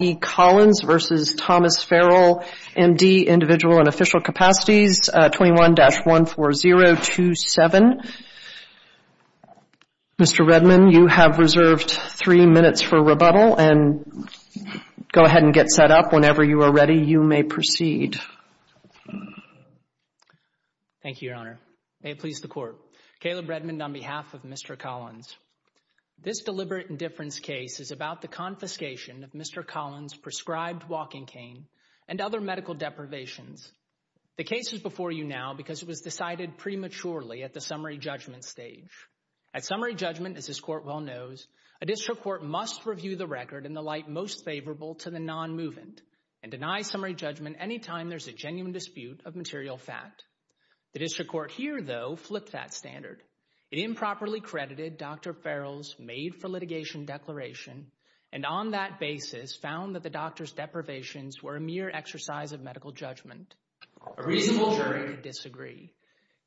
v. Thomas Ferrell, M.D., Individual and Official Capacities, 21-14027. Mr. Redman, you have reserved three minutes for rebuttal, and go ahead and get set up. Whenever you are ready, you may proceed. Thank you, Your Honor. May it please the Court. Caleb Redman on behalf of Mr. Collins. This deliberate indifference case is about the confiscation of Mr. Collins' prescribed walking cane and other medical deprivations. The case is before you now because it was decided prematurely at the summary judgment stage. At summary judgment, as this Court well knows, a district court must review the record in the light most favorable to the non-movement and deny summary judgment any time there's a genuine dispute of material fact. The district court here, though, flipped that standard. It improperly credited Dr. Ferrell's made-for-litigation declaration, and on that basis found that the doctor's deprivations were a mere exercise of medical judgment. A reasonable jury could disagree.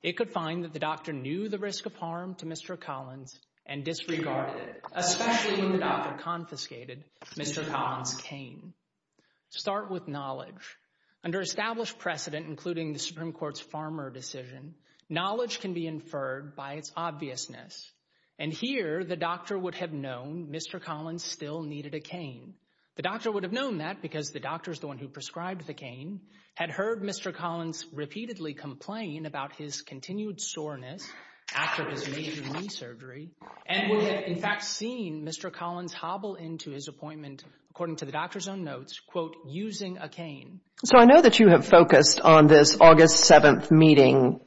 It could find that the doctor knew the risk of harm to Mr. Collins and disregarded it, especially when the doctor confiscated Mr. Collins' cane. Start with knowledge. Under established precedent, including the Supreme Court's Farmer decision, knowledge can be inferred by its obviousness. And here, the doctor would have known Mr. Collins still needed a cane. The doctor would have known that because the doctor is the one who prescribed the cane, had heard Mr. Collins repeatedly complain about his continued soreness after his major knee surgery, and would have, in fact, seen Mr. Collins hobble into his appointment, according to the doctor's own notes, quote, using a cane. So I know that you have focused on this August 7th meeting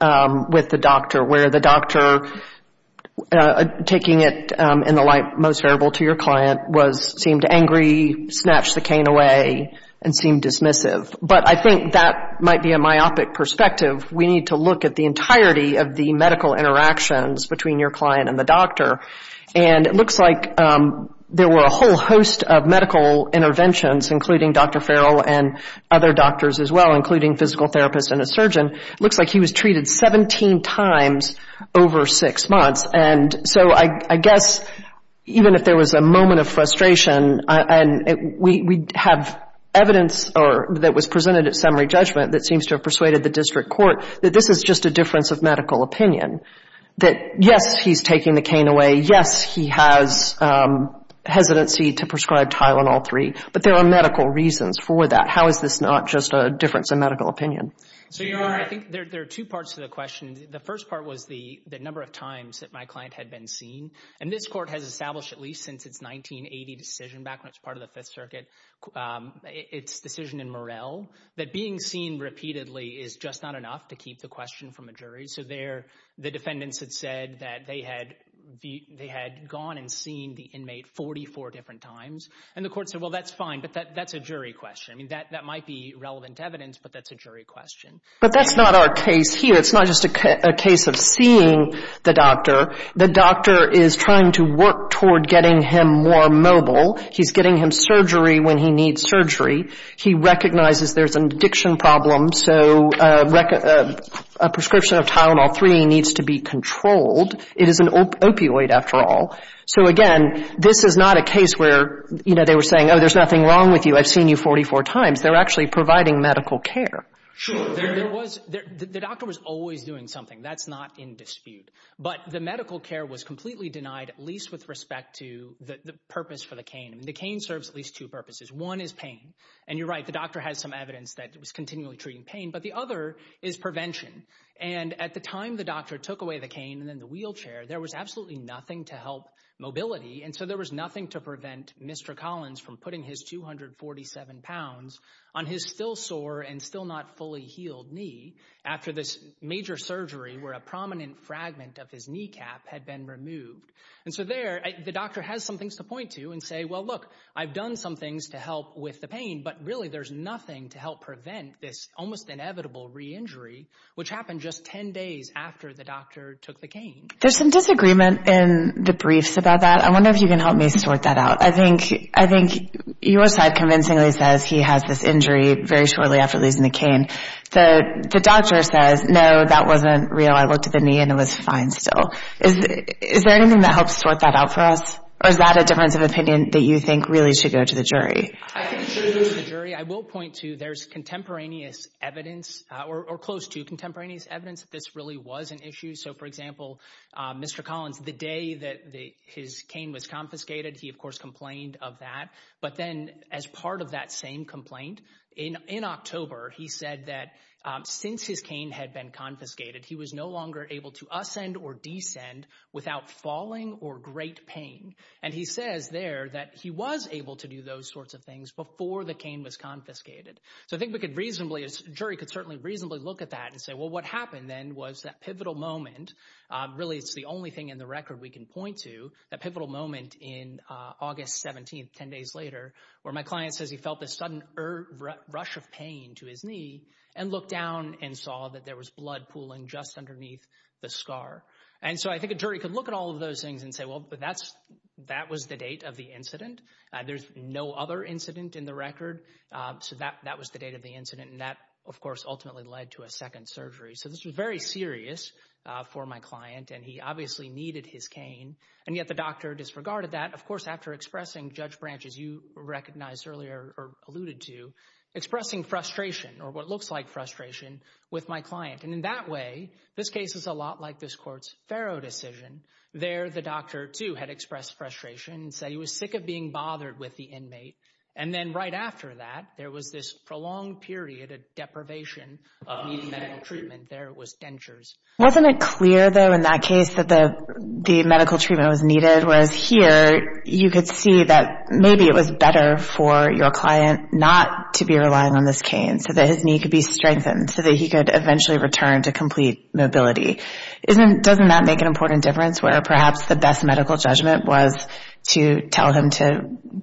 with the doctor, where the doctor, taking it in the light most favorable to your client, seemed angry, snatched the cane away, and seemed dismissive. But I think that might be a myopic perspective. We need to look at the entirety of the medical interactions between your client and the doctor. And it looks like there were a whole host of medical interventions, including Dr. Ferrell and other doctors as well, including physical therapists and a surgeon. It looks like he was treated 17 times over six months. And so I guess, even if there was a moment of frustration, and we have evidence that was presented at summary judgment that seems to have persuaded the district court that this is just a difference of medical opinion, that, yes, he's taking the cane away, yes, he has hesitancy to prescribe Tylenol 3. But there are medical reasons for that. How is this not just a difference of medical opinion? So, Your Honor, I think there are two parts to the question. The first part was the number of times that my client had been seen. And this Court has established, at least since its 1980 decision back when it was part of the Fifth Circuit, its decision in Morrell, that being seen repeatedly is just not enough to keep the question from a jury. So there, the defendants had said that they had gone and seen the inmate 44 different times. And the Court said, well, that's fine, but that's a jury question. I mean, that might be relevant evidence, but that's a jury question. But that's not our case here. It's not just a case of seeing the doctor. The doctor is trying to work toward getting him more mobile. He's getting him surgery when he needs surgery. He recognizes there's an addiction problem, so a prescription of Tylenol 3 needs to be controlled. It is an opioid, after all. So again, this is not a case where, you know, they were saying, oh, there's nothing wrong with you. I've seen you 44 times. They're actually providing medical care. Sure. There was, the doctor was always doing something. That's not in dispute. But the medical care was completely denied, at least with respect to the purpose for the cane. I mean, the cane serves at least two purposes. One is pain. And you're right, the doctor has some evidence that it was continually treating pain. But the other is prevention. And at the time the doctor took away the cane and then the wheelchair, there was absolutely nothing to help mobility. And so there was nothing to prevent Mr. Collins from putting his 247 pounds on his still sore and still not fully healed knee after this major surgery where a prominent fragment of his kneecap had been removed. And so there, the doctor has some things to point to and say, well, look, I've done some things to help with the pain. But really, there's nothing to help prevent this almost inevitable re-injury, which happened just 10 days after the doctor took the cane. There's some disagreement in the briefs about that. I wonder if you can help me sort that out. I think your side convincingly says he has this injury very shortly after losing the cane. The doctor says, no, that wasn't real. I looked at the knee and it was fine still. Is there anything that helps sort that out for us? Or is that a difference of opinion that you think really should go to the jury? I think it should go to the jury. I will point to there's contemporaneous evidence or close to contemporaneous evidence that this really was an issue. So, for example, Mr. Collins, the day that his cane was confiscated, he, of course, complained of that. But then as part of that same complaint in October, he said that since his cane had been confiscated, he was no longer able to ascend or descend without falling or great pain. And he says there that he was able to do those sorts of things before the cane was confiscated. So I think we could reasonably, a jury could certainly reasonably look at that and say, well, what happened then was that pivotal moment. Really, it's the only thing in the record we can point to. That pivotal moment in August 17th, 10 days later, where my client says he felt this sudden rush of pain to his knee and looked down and saw that there was blood pooling just underneath the scar. And so I think a jury could look at all of those things and say, well, but that's that was the date of the incident. There's no other incident in the record. So that that was the date of the incident. And that, of course, ultimately led to a second surgery. So this was very serious for my client. And he obviously needed his cane. And yet the doctor disregarded that. Of course, after expressing Judge Branch, as you recognized earlier or alluded to, expressing frustration or what looks like frustration with my client. And in that way, this case is a lot like this court's Farrow decision there. The doctor, too, had expressed frustration and said he was sick of being bothered with the inmate. And then right after that, there was this prolonged period of deprivation of needing medical treatment. There was dentures. Wasn't it clear, though, in that case that the the medical treatment was needed? Whereas here you could see that maybe it was better for your client not to be relying on this cane so that his knee could be strengthened so that he could eventually return to complete mobility. Isn't doesn't that make an important difference where perhaps the best medical judgment was to tell him to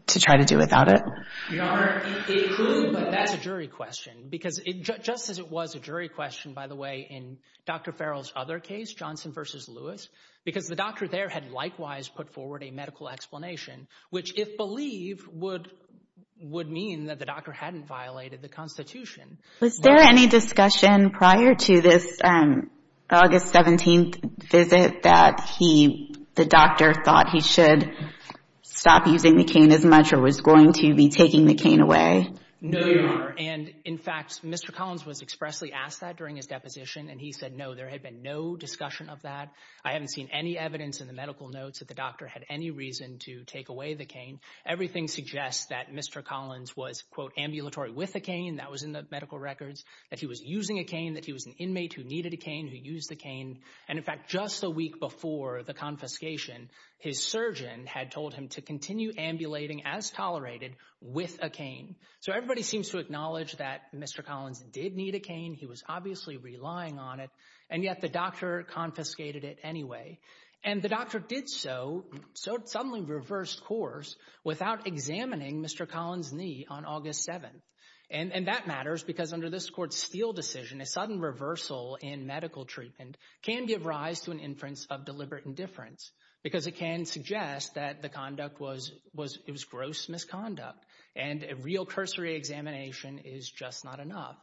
to try to do without it? That's a jury question, because just as it was a jury question, by the way, in Dr. Farrell's other case, Johnson versus Lewis, because the doctor there had likewise put forward a medical explanation, which if believed would would mean that the doctor hadn't violated the Constitution. Was there any discussion prior to this August 17th visit that he the doctor thought he should stop using the cane as much or was going to be taking the cane away? No. And in fact, Mr. Collins was expressly asked that during his deposition. And he said, no, there had been no discussion of that. I haven't seen any evidence in the medical notes that the doctor had any reason to take away the cane. Everything suggests that Mr. Collins was, quote, ambulatory with the cane. That was in the medical records that he was using a cane, that he was an inmate who needed a cane, who used the cane. And in fact, just a week before the confiscation, his surgeon had told him to continue ambulating as tolerated with a cane. So everybody seems to acknowledge that Mr. Collins did need a cane. He was obviously relying on it. And yet the doctor confiscated it anyway. And the doctor did so. So suddenly reversed course without examining Mr. Collins knee on August 7th. And that matters because under this Court's Steele decision, a sudden reversal in medical treatment can give rise to an inference of deliberate indifference because it can suggest that the conduct was was it was gross misconduct. And a real cursory examination is just not enough.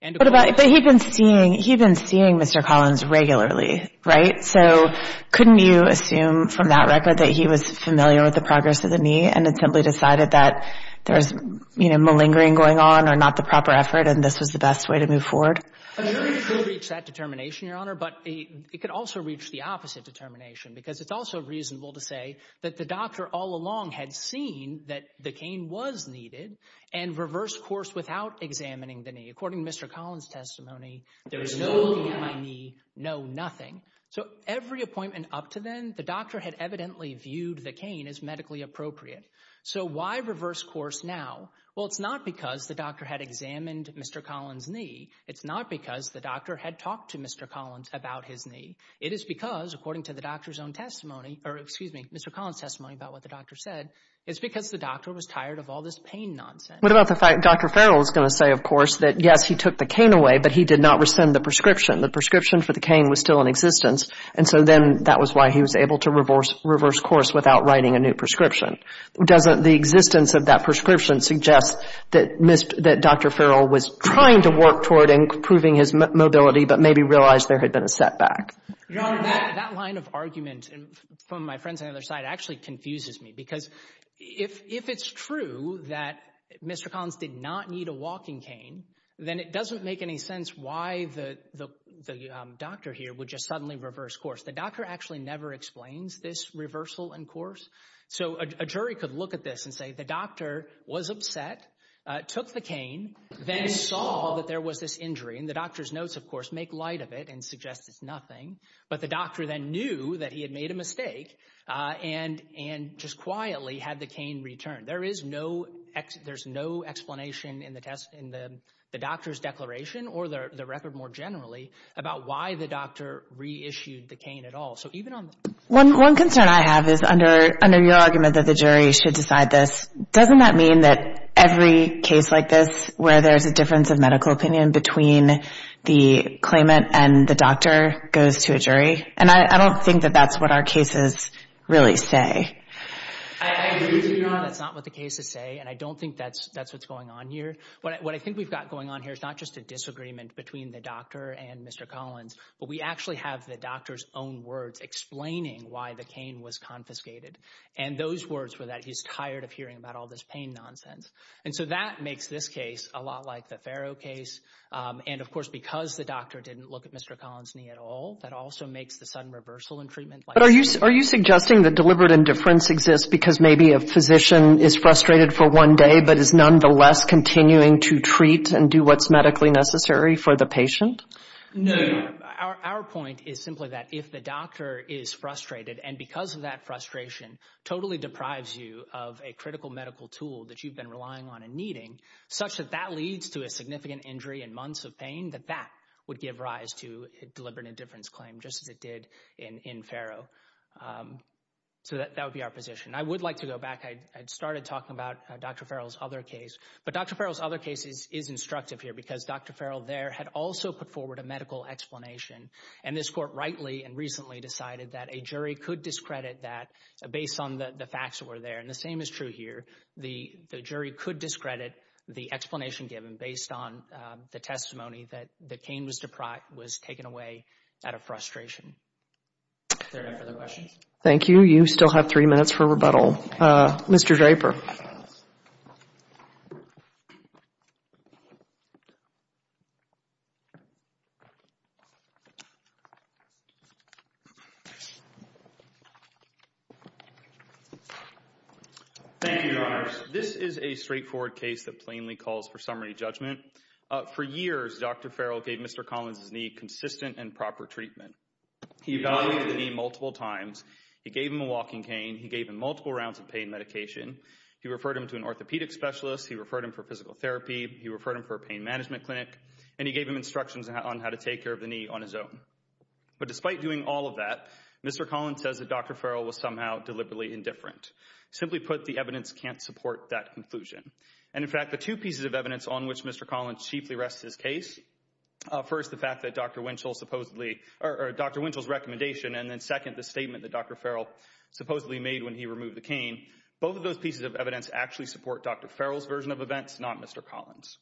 And he'd been seeing he'd been seeing Mr. Collins regularly. Right. So couldn't you assume from that record that he was familiar with the progress of the knee and simply decided that there was malingering going on or not the proper effort and this was the best way to move forward? I mean, it could reach that determination, Your Honor, but it could also reach the opposite determination because it's also reasonable to say that the doctor all along had seen that the cane was needed and reversed course without examining the knee. According to Mr. Collins testimony, there was no looking at my knee, no nothing. So every appointment up to then, the doctor had evidently viewed the cane as medically appropriate. So why reverse course now? Well, it's not because the doctor had examined Mr. Collins knee. It's not because the doctor had talked to Mr. Collins about his knee. It is because, according to the doctor's own testimony or excuse me, Mr. Collins testimony about what the doctor said, it's because the doctor was tired of all this pain nonsense. What about the fact Dr. Farrell is going to say, of course, that, yes, he took the cane away, but he did not rescind the prescription. The prescription for the cane was still in existence. And so then that was why he was able to reverse reverse course without writing a new prescription. Doesn't the existence of that prescription suggest that that Dr. Farrell was trying to work toward improving his mobility, but maybe realized there had been a setback? Your Honor, that line of argument from my friends on the other side actually confuses me, because if it's true that Mr. Collins did not need a walking cane, then it doesn't make any sense why the doctor here would just suddenly reverse course. The doctor actually never explains this reversal in course. So a jury could look at this and say the doctor was upset, took the cane, then saw that there was this injury in the doctor's notes, of course, make light of it and suggest it's nothing. But the doctor then knew that he had made a mistake and and just quietly had the cane returned. There is no there's no explanation in the test, in the doctor's declaration or the record more generally about why the doctor reissued the cane at all. One concern I have is under under your argument that the jury should decide this, doesn't that mean that every case like this where there's a difference of medical opinion between the claimant and the doctor goes to a jury? And I don't think that that's what our cases really say. I agree with you, Your Honor, that's not what the cases say, and I don't think that's that's what's going on here. What I think we've got going on here is not just a disagreement between the doctor and explaining why the cane was confiscated. And those words were that he's tired of hearing about all this pain nonsense. And so that makes this case a lot like the Farrow case. And of course, because the doctor didn't look at Mr. Collins knee at all, that also makes the sudden reversal in treatment. But are you are you suggesting that deliberate indifference exists because maybe a physician is frustrated for one day, but is nonetheless continuing to treat and do what's medically necessary for the patient? No, our point is simply that if the doctor is frustrated and because of that frustration totally deprives you of a critical medical tool that you've been relying on and needing such that that leads to a significant injury and months of pain, that that would give rise to deliberate indifference claim just as it did in Farrow. So that would be our position. I would like to go back. I had started talking about Dr. Farrell's other case, but Dr. Farrell there had also put forward a medical explanation. And this court rightly and recently decided that a jury could discredit that based on the facts that were there. And the same is true here. The jury could discredit the explanation given based on the testimony that the cane was deprived, was taken away out of frustration. Thank you. You still have three minutes for rebuttal, Mr. Draper. Thank you. This is a straightforward case that plainly calls for summary judgment. For years, Dr. Farrell gave Mr. Collins's knee consistent and proper treatment. He evaluated the knee multiple times. He gave him a walking cane. He gave him multiple rounds of pain medication. He referred him to an orthopedic specialist. He referred him for physical therapy. He referred him for pain management clinic, and he gave him instructions on how to take care of the knee on his own. But despite doing all of that, Mr. Collins says that Dr. Farrell was somehow deliberately indifferent. Simply put, the evidence can't support that conclusion. And in fact, the two pieces of evidence on which Mr. Collins chiefly rests his case, first, the fact that Dr. Winchell supposedly or Dr. Winchell's recommendation, and then second, the statement that Dr. Farrell supposedly made when he removed the cane. Both of those pieces of evidence actually support Dr. Farrell's version of events, not Mr. Collins.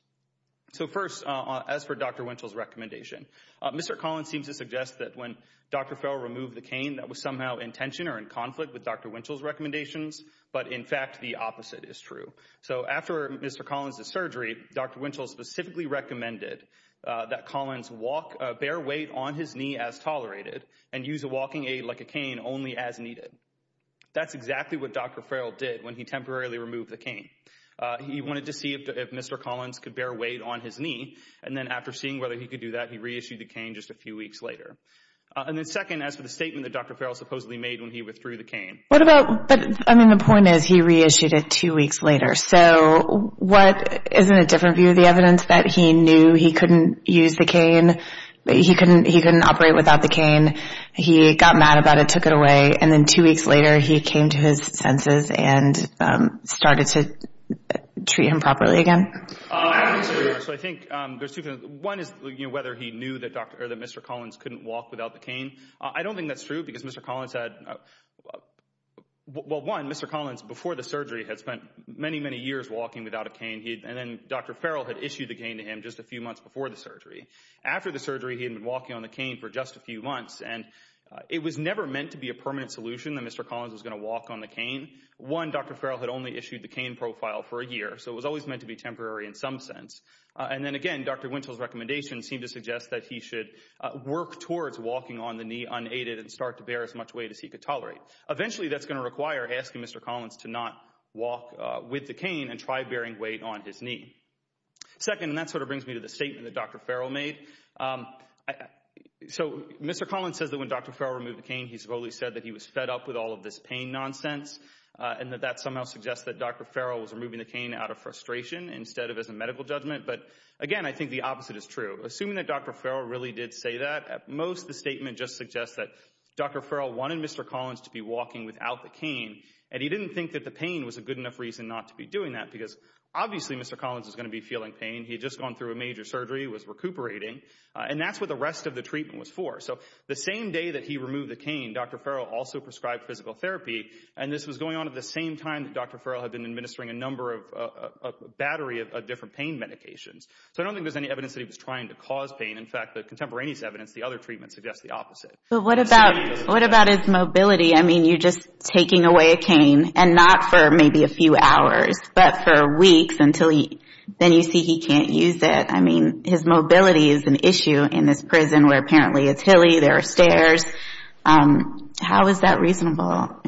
So first, as for Dr. Winchell's recommendation, Mr. Collins seems to suggest that when Dr. Farrell removed the cane, that was somehow in tension or in conflict with Dr. Winchell's recommendations. But in fact, the opposite is true. So after Mr. Collins' surgery, Dr. Winchell specifically recommended that Collins walk a bare weight on his knee as tolerated and use a walking aid like a cane only as needed. That's exactly what Dr. Farrell did when he temporarily removed the cane. He wanted to see if Mr. Collins could bear weight on his knee. And then after seeing whether he could do that, he reissued the cane just a few weeks later. And then second, as for the statement that Dr. Farrell supposedly made when he withdrew the cane. What about, but I mean, the point is he reissued it two weeks later. So what, isn't it a different view of the evidence that he knew he couldn't use the cane? He couldn't, he couldn't operate without the cane. He got mad about it, took it away. And then two weeks later, he came to his senses and started to treat him properly again. So I think there's two things. One is whether he knew that Dr., or that Mr. Collins couldn't walk without the cane. I don't think that's true because Mr. Collins had, well, one, Mr. Collins before the surgery had spent many, many years walking without a cane. And then Dr. Farrell had issued the cane to him just a few months before the surgery. After the surgery, he had been walking on the cane for just a few months. And it was never meant to be a permanent solution that Mr. Collins was going to walk on the cane. One, Dr. Farrell had only issued the cane profile for a year. So it was always meant to be temporary in some sense. And then again, Dr. Wintel's recommendations seem to suggest that he should work towards walking on the knee unaided and start to bear as much weight as he could tolerate. Eventually, that's going to require asking Mr. Collins to not walk with the cane and try bearing weight on his knee. Second, and that sort of brings me to the statement that Dr. Farrell made. Um, so Mr. Collins says that when Dr. Farrell removed the cane, he supposedly said that he was fed up with all of this pain nonsense and that that somehow suggests that Dr. Farrell was removing the cane out of frustration instead of as a medical judgment. But again, I think the opposite is true. Assuming that Dr. Farrell really did say that at most, the statement just suggests that Dr. Farrell wanted Mr. Collins to be walking without the cane. And he didn't think that the pain was a good enough reason not to be doing that because obviously Mr. Collins is going to be feeling pain. He had just gone through a major surgery, was recuperating. And that's what the rest of the treatment was for. So the same day that he removed the cane, Dr. Farrell also prescribed physical therapy. And this was going on at the same time that Dr. Farrell had been administering a number of, a battery of different pain medications. So I don't think there's any evidence that he was trying to cause pain. In fact, the contemporaneous evidence, the other treatment suggests the opposite. But what about, what about his mobility? I mean, you're just taking away a cane and not for maybe a few hours, but for weeks until he, then you see he can't use it. His mobility is an issue in this prison where apparently it's hilly, there are stairs. How is that reasonable?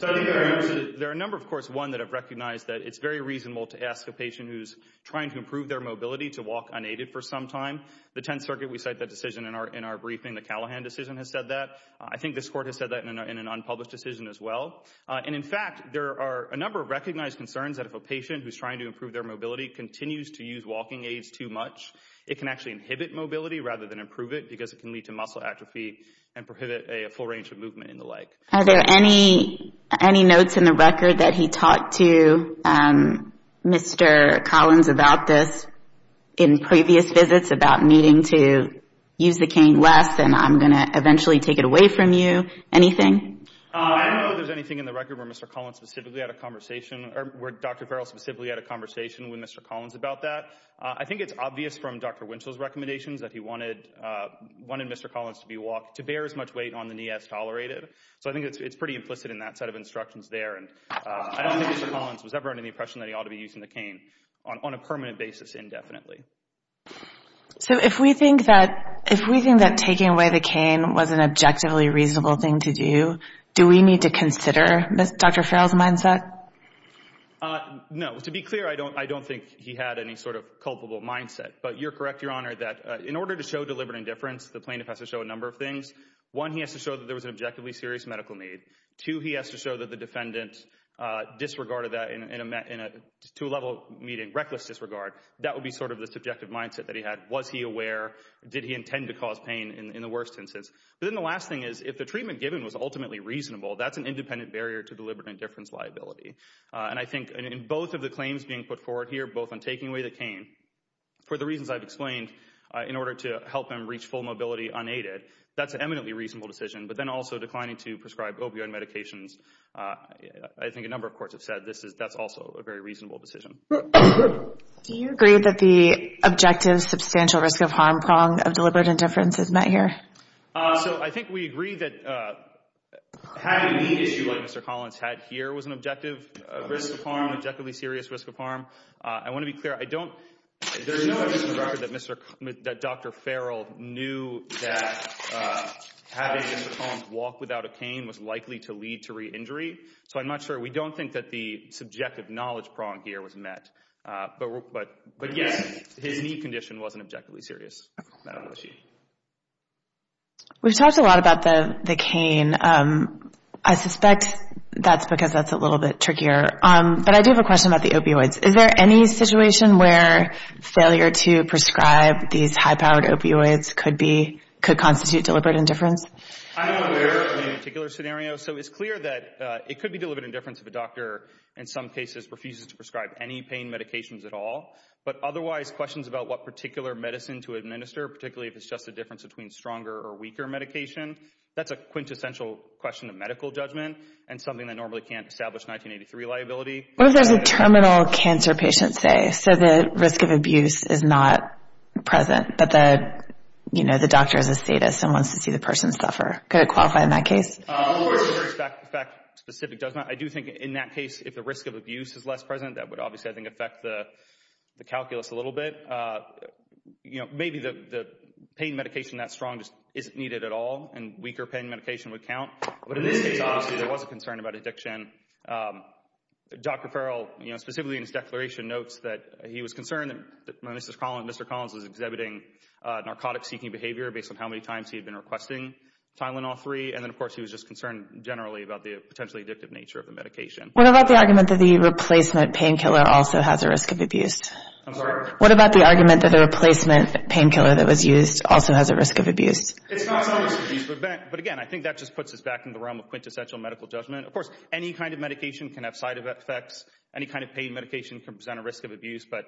There are a number of courts, one, that have recognized that it's very reasonable to ask a patient who's trying to improve their mobility to walk unaided for some time. The Tenth Circuit, we cite that decision in our briefing. The Callahan decision has said that. I think this court has said that in an unpublished decision as well. And in fact, there are a number of recognized concerns that if a patient who's trying to improve their mobility continues to use walking aids too much, it can actually inhibit mobility rather than improve it, because it can lead to muscle atrophy and prohibit a full range of movement in the leg. Are there any, any notes in the record that he talked to Mr. Collins about this in previous visits about needing to use the cane less and I'm going to eventually take it away from you? Anything? I don't know if there's anything in the record where Mr. Collins specifically had a conversation or where Dr. Farrell specifically had a conversation with Mr. Collins about that. I think it's obvious from Dr. Winchell's recommendations that he wanted, wanted Mr. Collins to be walked to bear as much weight on the knee as tolerated. So I think it's pretty implicit in that set of instructions there. And I don't think Mr. Collins was ever under the impression that he ought to be using the cane on a permanent basis indefinitely. So if we think that, if we think that taking away the cane was an objectively reasonable thing to do, do we need to consider Dr. Farrell's mindset? No. To be clear, I don't, I don't think he had any sort of culpable mindset. But you're correct, Your Honor, that in order to show deliberate indifference, the plaintiff has to show a number of things. One, he has to show that there was an objectively serious medical need. Two, he has to show that the defendant disregarded that in a, in a, to a level meeting, reckless disregard. That would be sort of the subjective mindset that he had. Was he aware? Did he intend to cause pain in the worst instance? But then the last thing is, if the treatment given was ultimately reasonable, that's an independent barrier to deliberate indifference liability. And I think in both of the claims being put forward here, both on taking away the cane, for the reasons I've explained, in order to help him reach full mobility unaided, that's an eminently reasonable decision. But then also declining to prescribe opioid medications. I think a number of courts have said this is, that's also a very reasonable decision. Do you agree that the objective substantial risk of harm prong of deliberate indifference is met here? So I think we agree that having a knee issue like Mr. Collins had here was an objective risk of harm, objectively serious risk of harm. I want to be clear, I don't, there's no evidence in the record that Mr., that Dr. Farrell knew that having Mr. Collins walk without a cane was likely to lead to re-injury. So I'm not sure. We don't think that the subjective knowledge prong here was met. But, but, but yes, his knee condition wasn't objectively serious. Not an issue. We've talked a lot about the cane. I suspect that's because that's a little bit trickier. But I do have a question about the opioids. Is there any situation where failure to prescribe these high-powered opioids could be, could constitute deliberate indifference? I'm not aware of any particular scenario. So it's clear that it could be deliberate indifference if a doctor, in some cases, refuses to prescribe any pain medications at all. But otherwise, questions about what particular medicine to administer, particularly if it's just a difference between stronger or weaker medication, that's a quintessential question of medical judgment and something that normally can't establish 1983 liability. What does a terminal cancer patient say? So the risk of abuse is not present, but the, you know, the doctor is a sadist and wants to see the person suffer. Could it qualify in that case? The fact specific does not. I do think in that case, if the risk of abuse is less present, that would obviously, I think, affect the calculus a little bit. You know, maybe the pain medication that strong just isn't needed at all, and weaker pain medication would count. But in this case, obviously, there was a concern about addiction. Dr. Farrell, you know, specifically in his declaration notes that he was concerned that when Mr. Collins was exhibiting narcotic-seeking behavior based on how many times he had been requesting Tylenol-3, and then, of course, he was just concerned generally about the potentially addictive nature of the medication. What about the argument that the replacement painkiller also has a risk of abuse? I'm sorry? What about the argument that a replacement painkiller that was used also has a risk of abuse? But again, I think that just puts us back in the realm of quintessential medical judgment. Of course, any kind of medication can have side effects. Any kind of pain medication can present a risk of abuse. But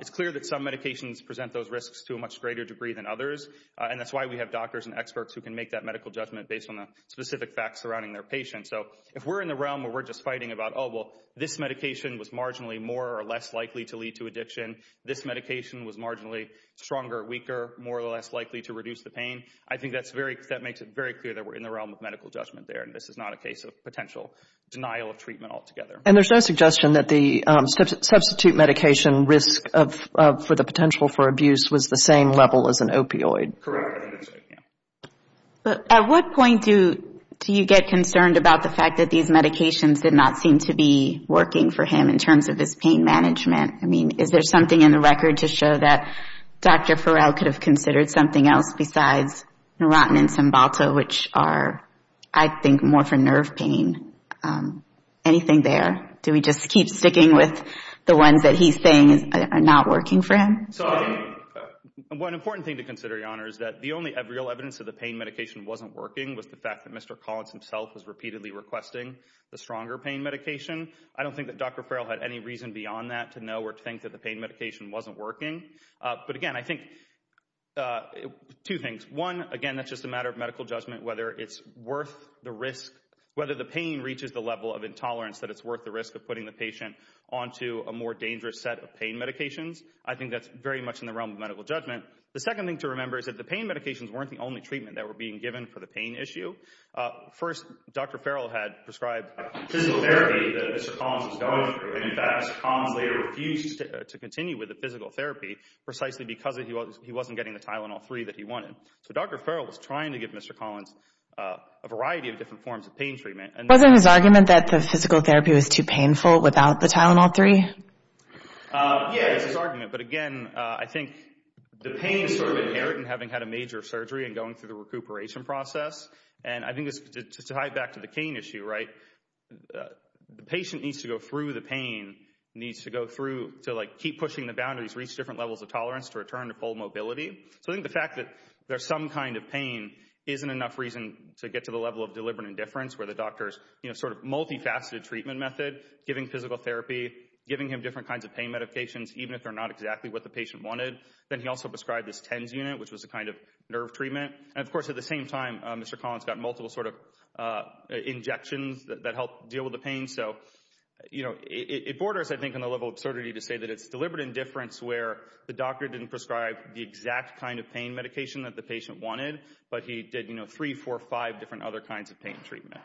it's clear that some medications present those risks to a much greater degree than others. And that's why we have doctors and experts who can make that medical judgment based on the specific facts surrounding their patient. So if we're in the realm where we're just fighting about, oh, well, this medication was marginally more or less likely to lead to addiction, this medication was marginally stronger or weaker, more or less likely to reduce the pain, I think that makes it very clear that we're in the realm of medical judgment there, and this is not a case of potential denial of treatment altogether. And there's no suggestion that the substitute medication risk for the potential for abuse was the same level as an opioid? Correct. Yeah. But at what point do you get concerned about the fact that these medications did not seem to be working for him in terms of his pain management? I mean, is there something in the record to show that Dr. Farrell could have considered something else besides Neurontin and Cymbalta, which are, I think, more for nerve pain? Anything there? Do we just keep sticking with the ones that he's saying are not working for him? So one important thing to consider, Your Honor, is that the only real evidence that the pain medication wasn't working was the fact that Mr. Collins himself was repeatedly requesting the stronger pain medication. I don't think that Dr. Farrell had any reason beyond that to know or to think that the pain medication wasn't working. But again, I think two things. One, again, that's just a matter of medical judgment, whether it's worth the risk, whether the pain reaches the level of intolerance that it's worth the risk of putting the patient onto a more dangerous set of pain medications. I think that's very much in the realm of medical judgment. The second thing to remember is that the pain medications weren't the only treatment that were being given for the pain issue. First, Dr. Farrell had prescribed physical therapy that Mr. Collins was going through. And in fact, Mr. Collins later refused to continue with the physical therapy precisely because he wasn't getting the Tylenol-3 that he wanted. So Dr. Farrell was trying to give Mr. Collins a variety of different forms of pain treatment. Wasn't his argument that the physical therapy was too painful without the Tylenol-3? Yeah, it's his argument. But again, I think the pain is sort of inherent in having had a major surgery and going through the recuperation process. And I think to tie it back to the cane issue, right, the patient needs to go through the pain, needs to go through to like keep pushing the boundaries, reach different levels of tolerance to return to full mobility. So I think the fact that there's some kind of pain isn't enough reason to get to the level of deliberate indifference where the doctors, you know, sort of multifaceted treatment method, giving physical therapy, giving him different kinds of pain medications, even if they're not exactly what the patient wanted. Then he also prescribed this TENS unit, which was a kind of nerve treatment. And of course, at the same time, Mr. Collins got multiple sort of injections that helped deal with the pain. So, you know, it borders, I think, on the level of absurdity to say that it's deliberate indifference where the doctor didn't prescribe the exact kind of pain medication that the patient wanted, but he did, you know, three, four, five different other kinds of pain treatment.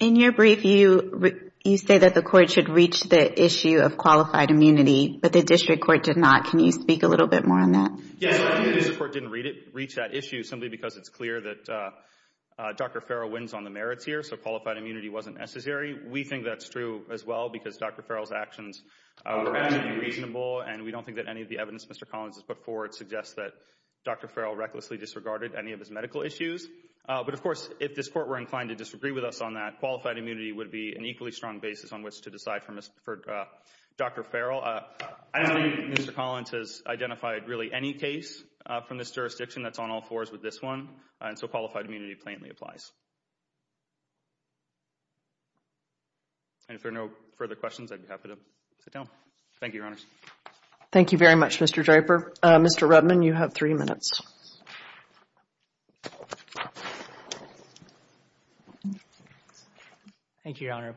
In your brief, you say that the court should reach the issue of qualified immunity, but the district court did not. Can you speak a little bit more on that? Yes, I think the district court didn't reach that issue simply because it's clear that Dr. Farrell wins on the merits here, so qualified immunity wasn't necessary. We think that's true as well because Dr. Farrell's actions were actually reasonable, and we don't think that any of the evidence Mr. Collins has put forward suggests that Dr. Farrell recklessly disregarded any of his medical issues. But of course, if this court were inclined to disagree with us on that, qualified immunity would be an equally strong basis on which to decide for Dr. Farrell. I don't think Mr. Collins has identified really any case from this jurisdiction that's on all fours with this one, and so qualified immunity plainly applies. And if there are no further questions, I'd be happy to sit down. Thank you, Your Honors. Thank you very much, Mr. Draper. Mr. Rudman, you have three minutes. Thank you, Your Honor.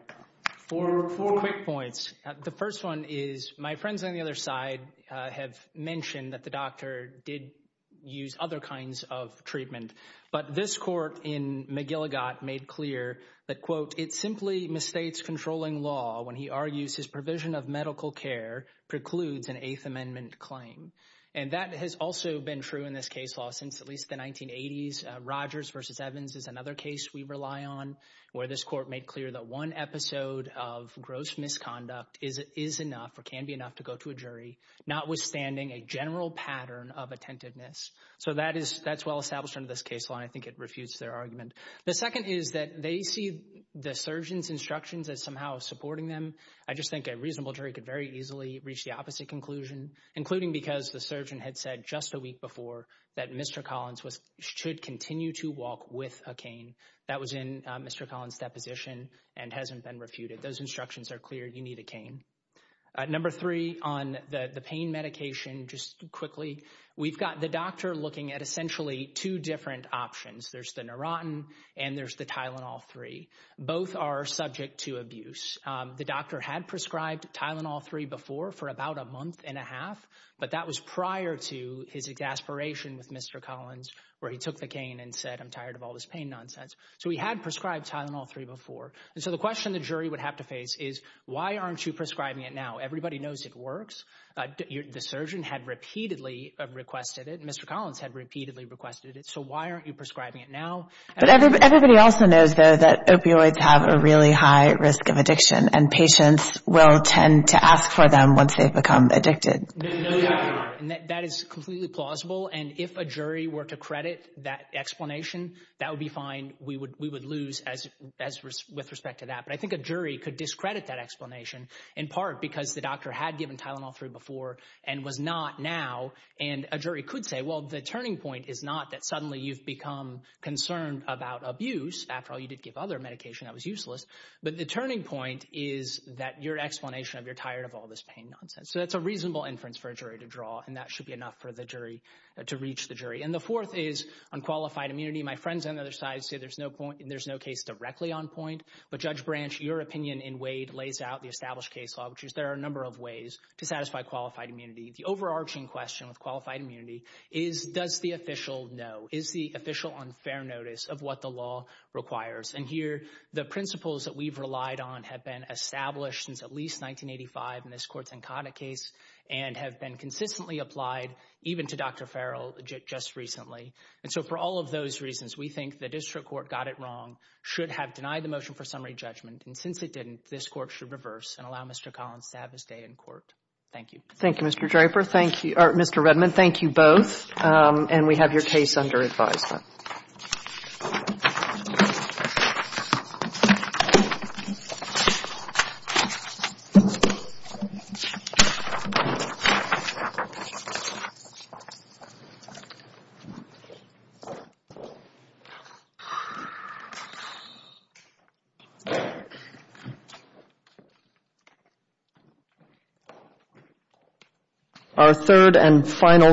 Four quick points. The first one is, my friends on the other side have mentioned that the doctor did use other kinds of treatment, but this court in McGilligott made clear that, quote, it simply misstates controlling law when he argues his provision of medical care precludes an Eighth Amendment claim. And that has also been true in this case law since at least the 1980s. Rogers v. Evans is another case we rely on, where this court made clear that one episode of gross misconduct is enough or can be enough to go to a jury, notwithstanding a general pattern of attentiveness. So that's well established under this case law, and I think it refutes their argument. The second is that they see the surgeon's instructions as somehow supporting them. I just think a reasonable jury could very easily reach the opposite conclusion, including because the surgeon had said just a week before that Mr. Collins should continue to walk with a cane. That was in Mr. Collins' deposition and hasn't been refuted. Those instructions are clear. You need a cane. Number three, on the pain medication, just quickly, we've got the doctor looking at essentially two different options. There's the Neurontin and there's the Tylenol-3. Both are subject to abuse. The doctor had prescribed Tylenol-3 before for about a month and a half, but that was prior to his exasperation with Mr. Collins, where he took the cane and said, I'm tired of all this pain nonsense. So he had prescribed Tylenol-3 before. And so the question the jury would have to face is, why aren't you prescribing it now? Everybody knows it works. The surgeon had repeatedly requested it. Mr. Collins had repeatedly requested it. So why aren't you prescribing it now? Everybody also knows, though, that opioids have a really high risk of addiction and patients will tend to ask for them once they've become addicted. That is completely plausible. And if a jury were to credit that explanation, that would be fine. We would lose with respect to that. But I think a jury could discredit that explanation in part because the doctor had given Tylenol-3 before and was not now. And a jury could say, well, the turning point is not that suddenly you've become concerned about abuse. After all, you did give other medication that was useless. But the turning point is that your explanation of you're tired of all this pain nonsense. So that's a reasonable inference for a jury to draw. And that should be enough for the jury to reach the jury. And the fourth is unqualified immunity. My friends on the other side say there's no case directly on point. But Judge Branch, your opinion in Wade lays out the established case law, which is there are a number of ways to satisfy qualified immunity. The overarching question with qualified immunity is, does the official know? Is the official on fair notice of what the law requires? And here, the principles that we've relied on have been established since at least 1985 in this court's Nkata case and have been consistently applied even to Dr. Farrell just recently. And so for all of those reasons, we think the district court got it wrong, should have denied the motion for summary judgment. And since it didn't, this court should reverse and allow Mr. Collins to have his day in court. Thank you. Thank you, Mr. Draper. Thank you, Mr. Redman. Thank you both. And we have your case under advisement. Our third and final.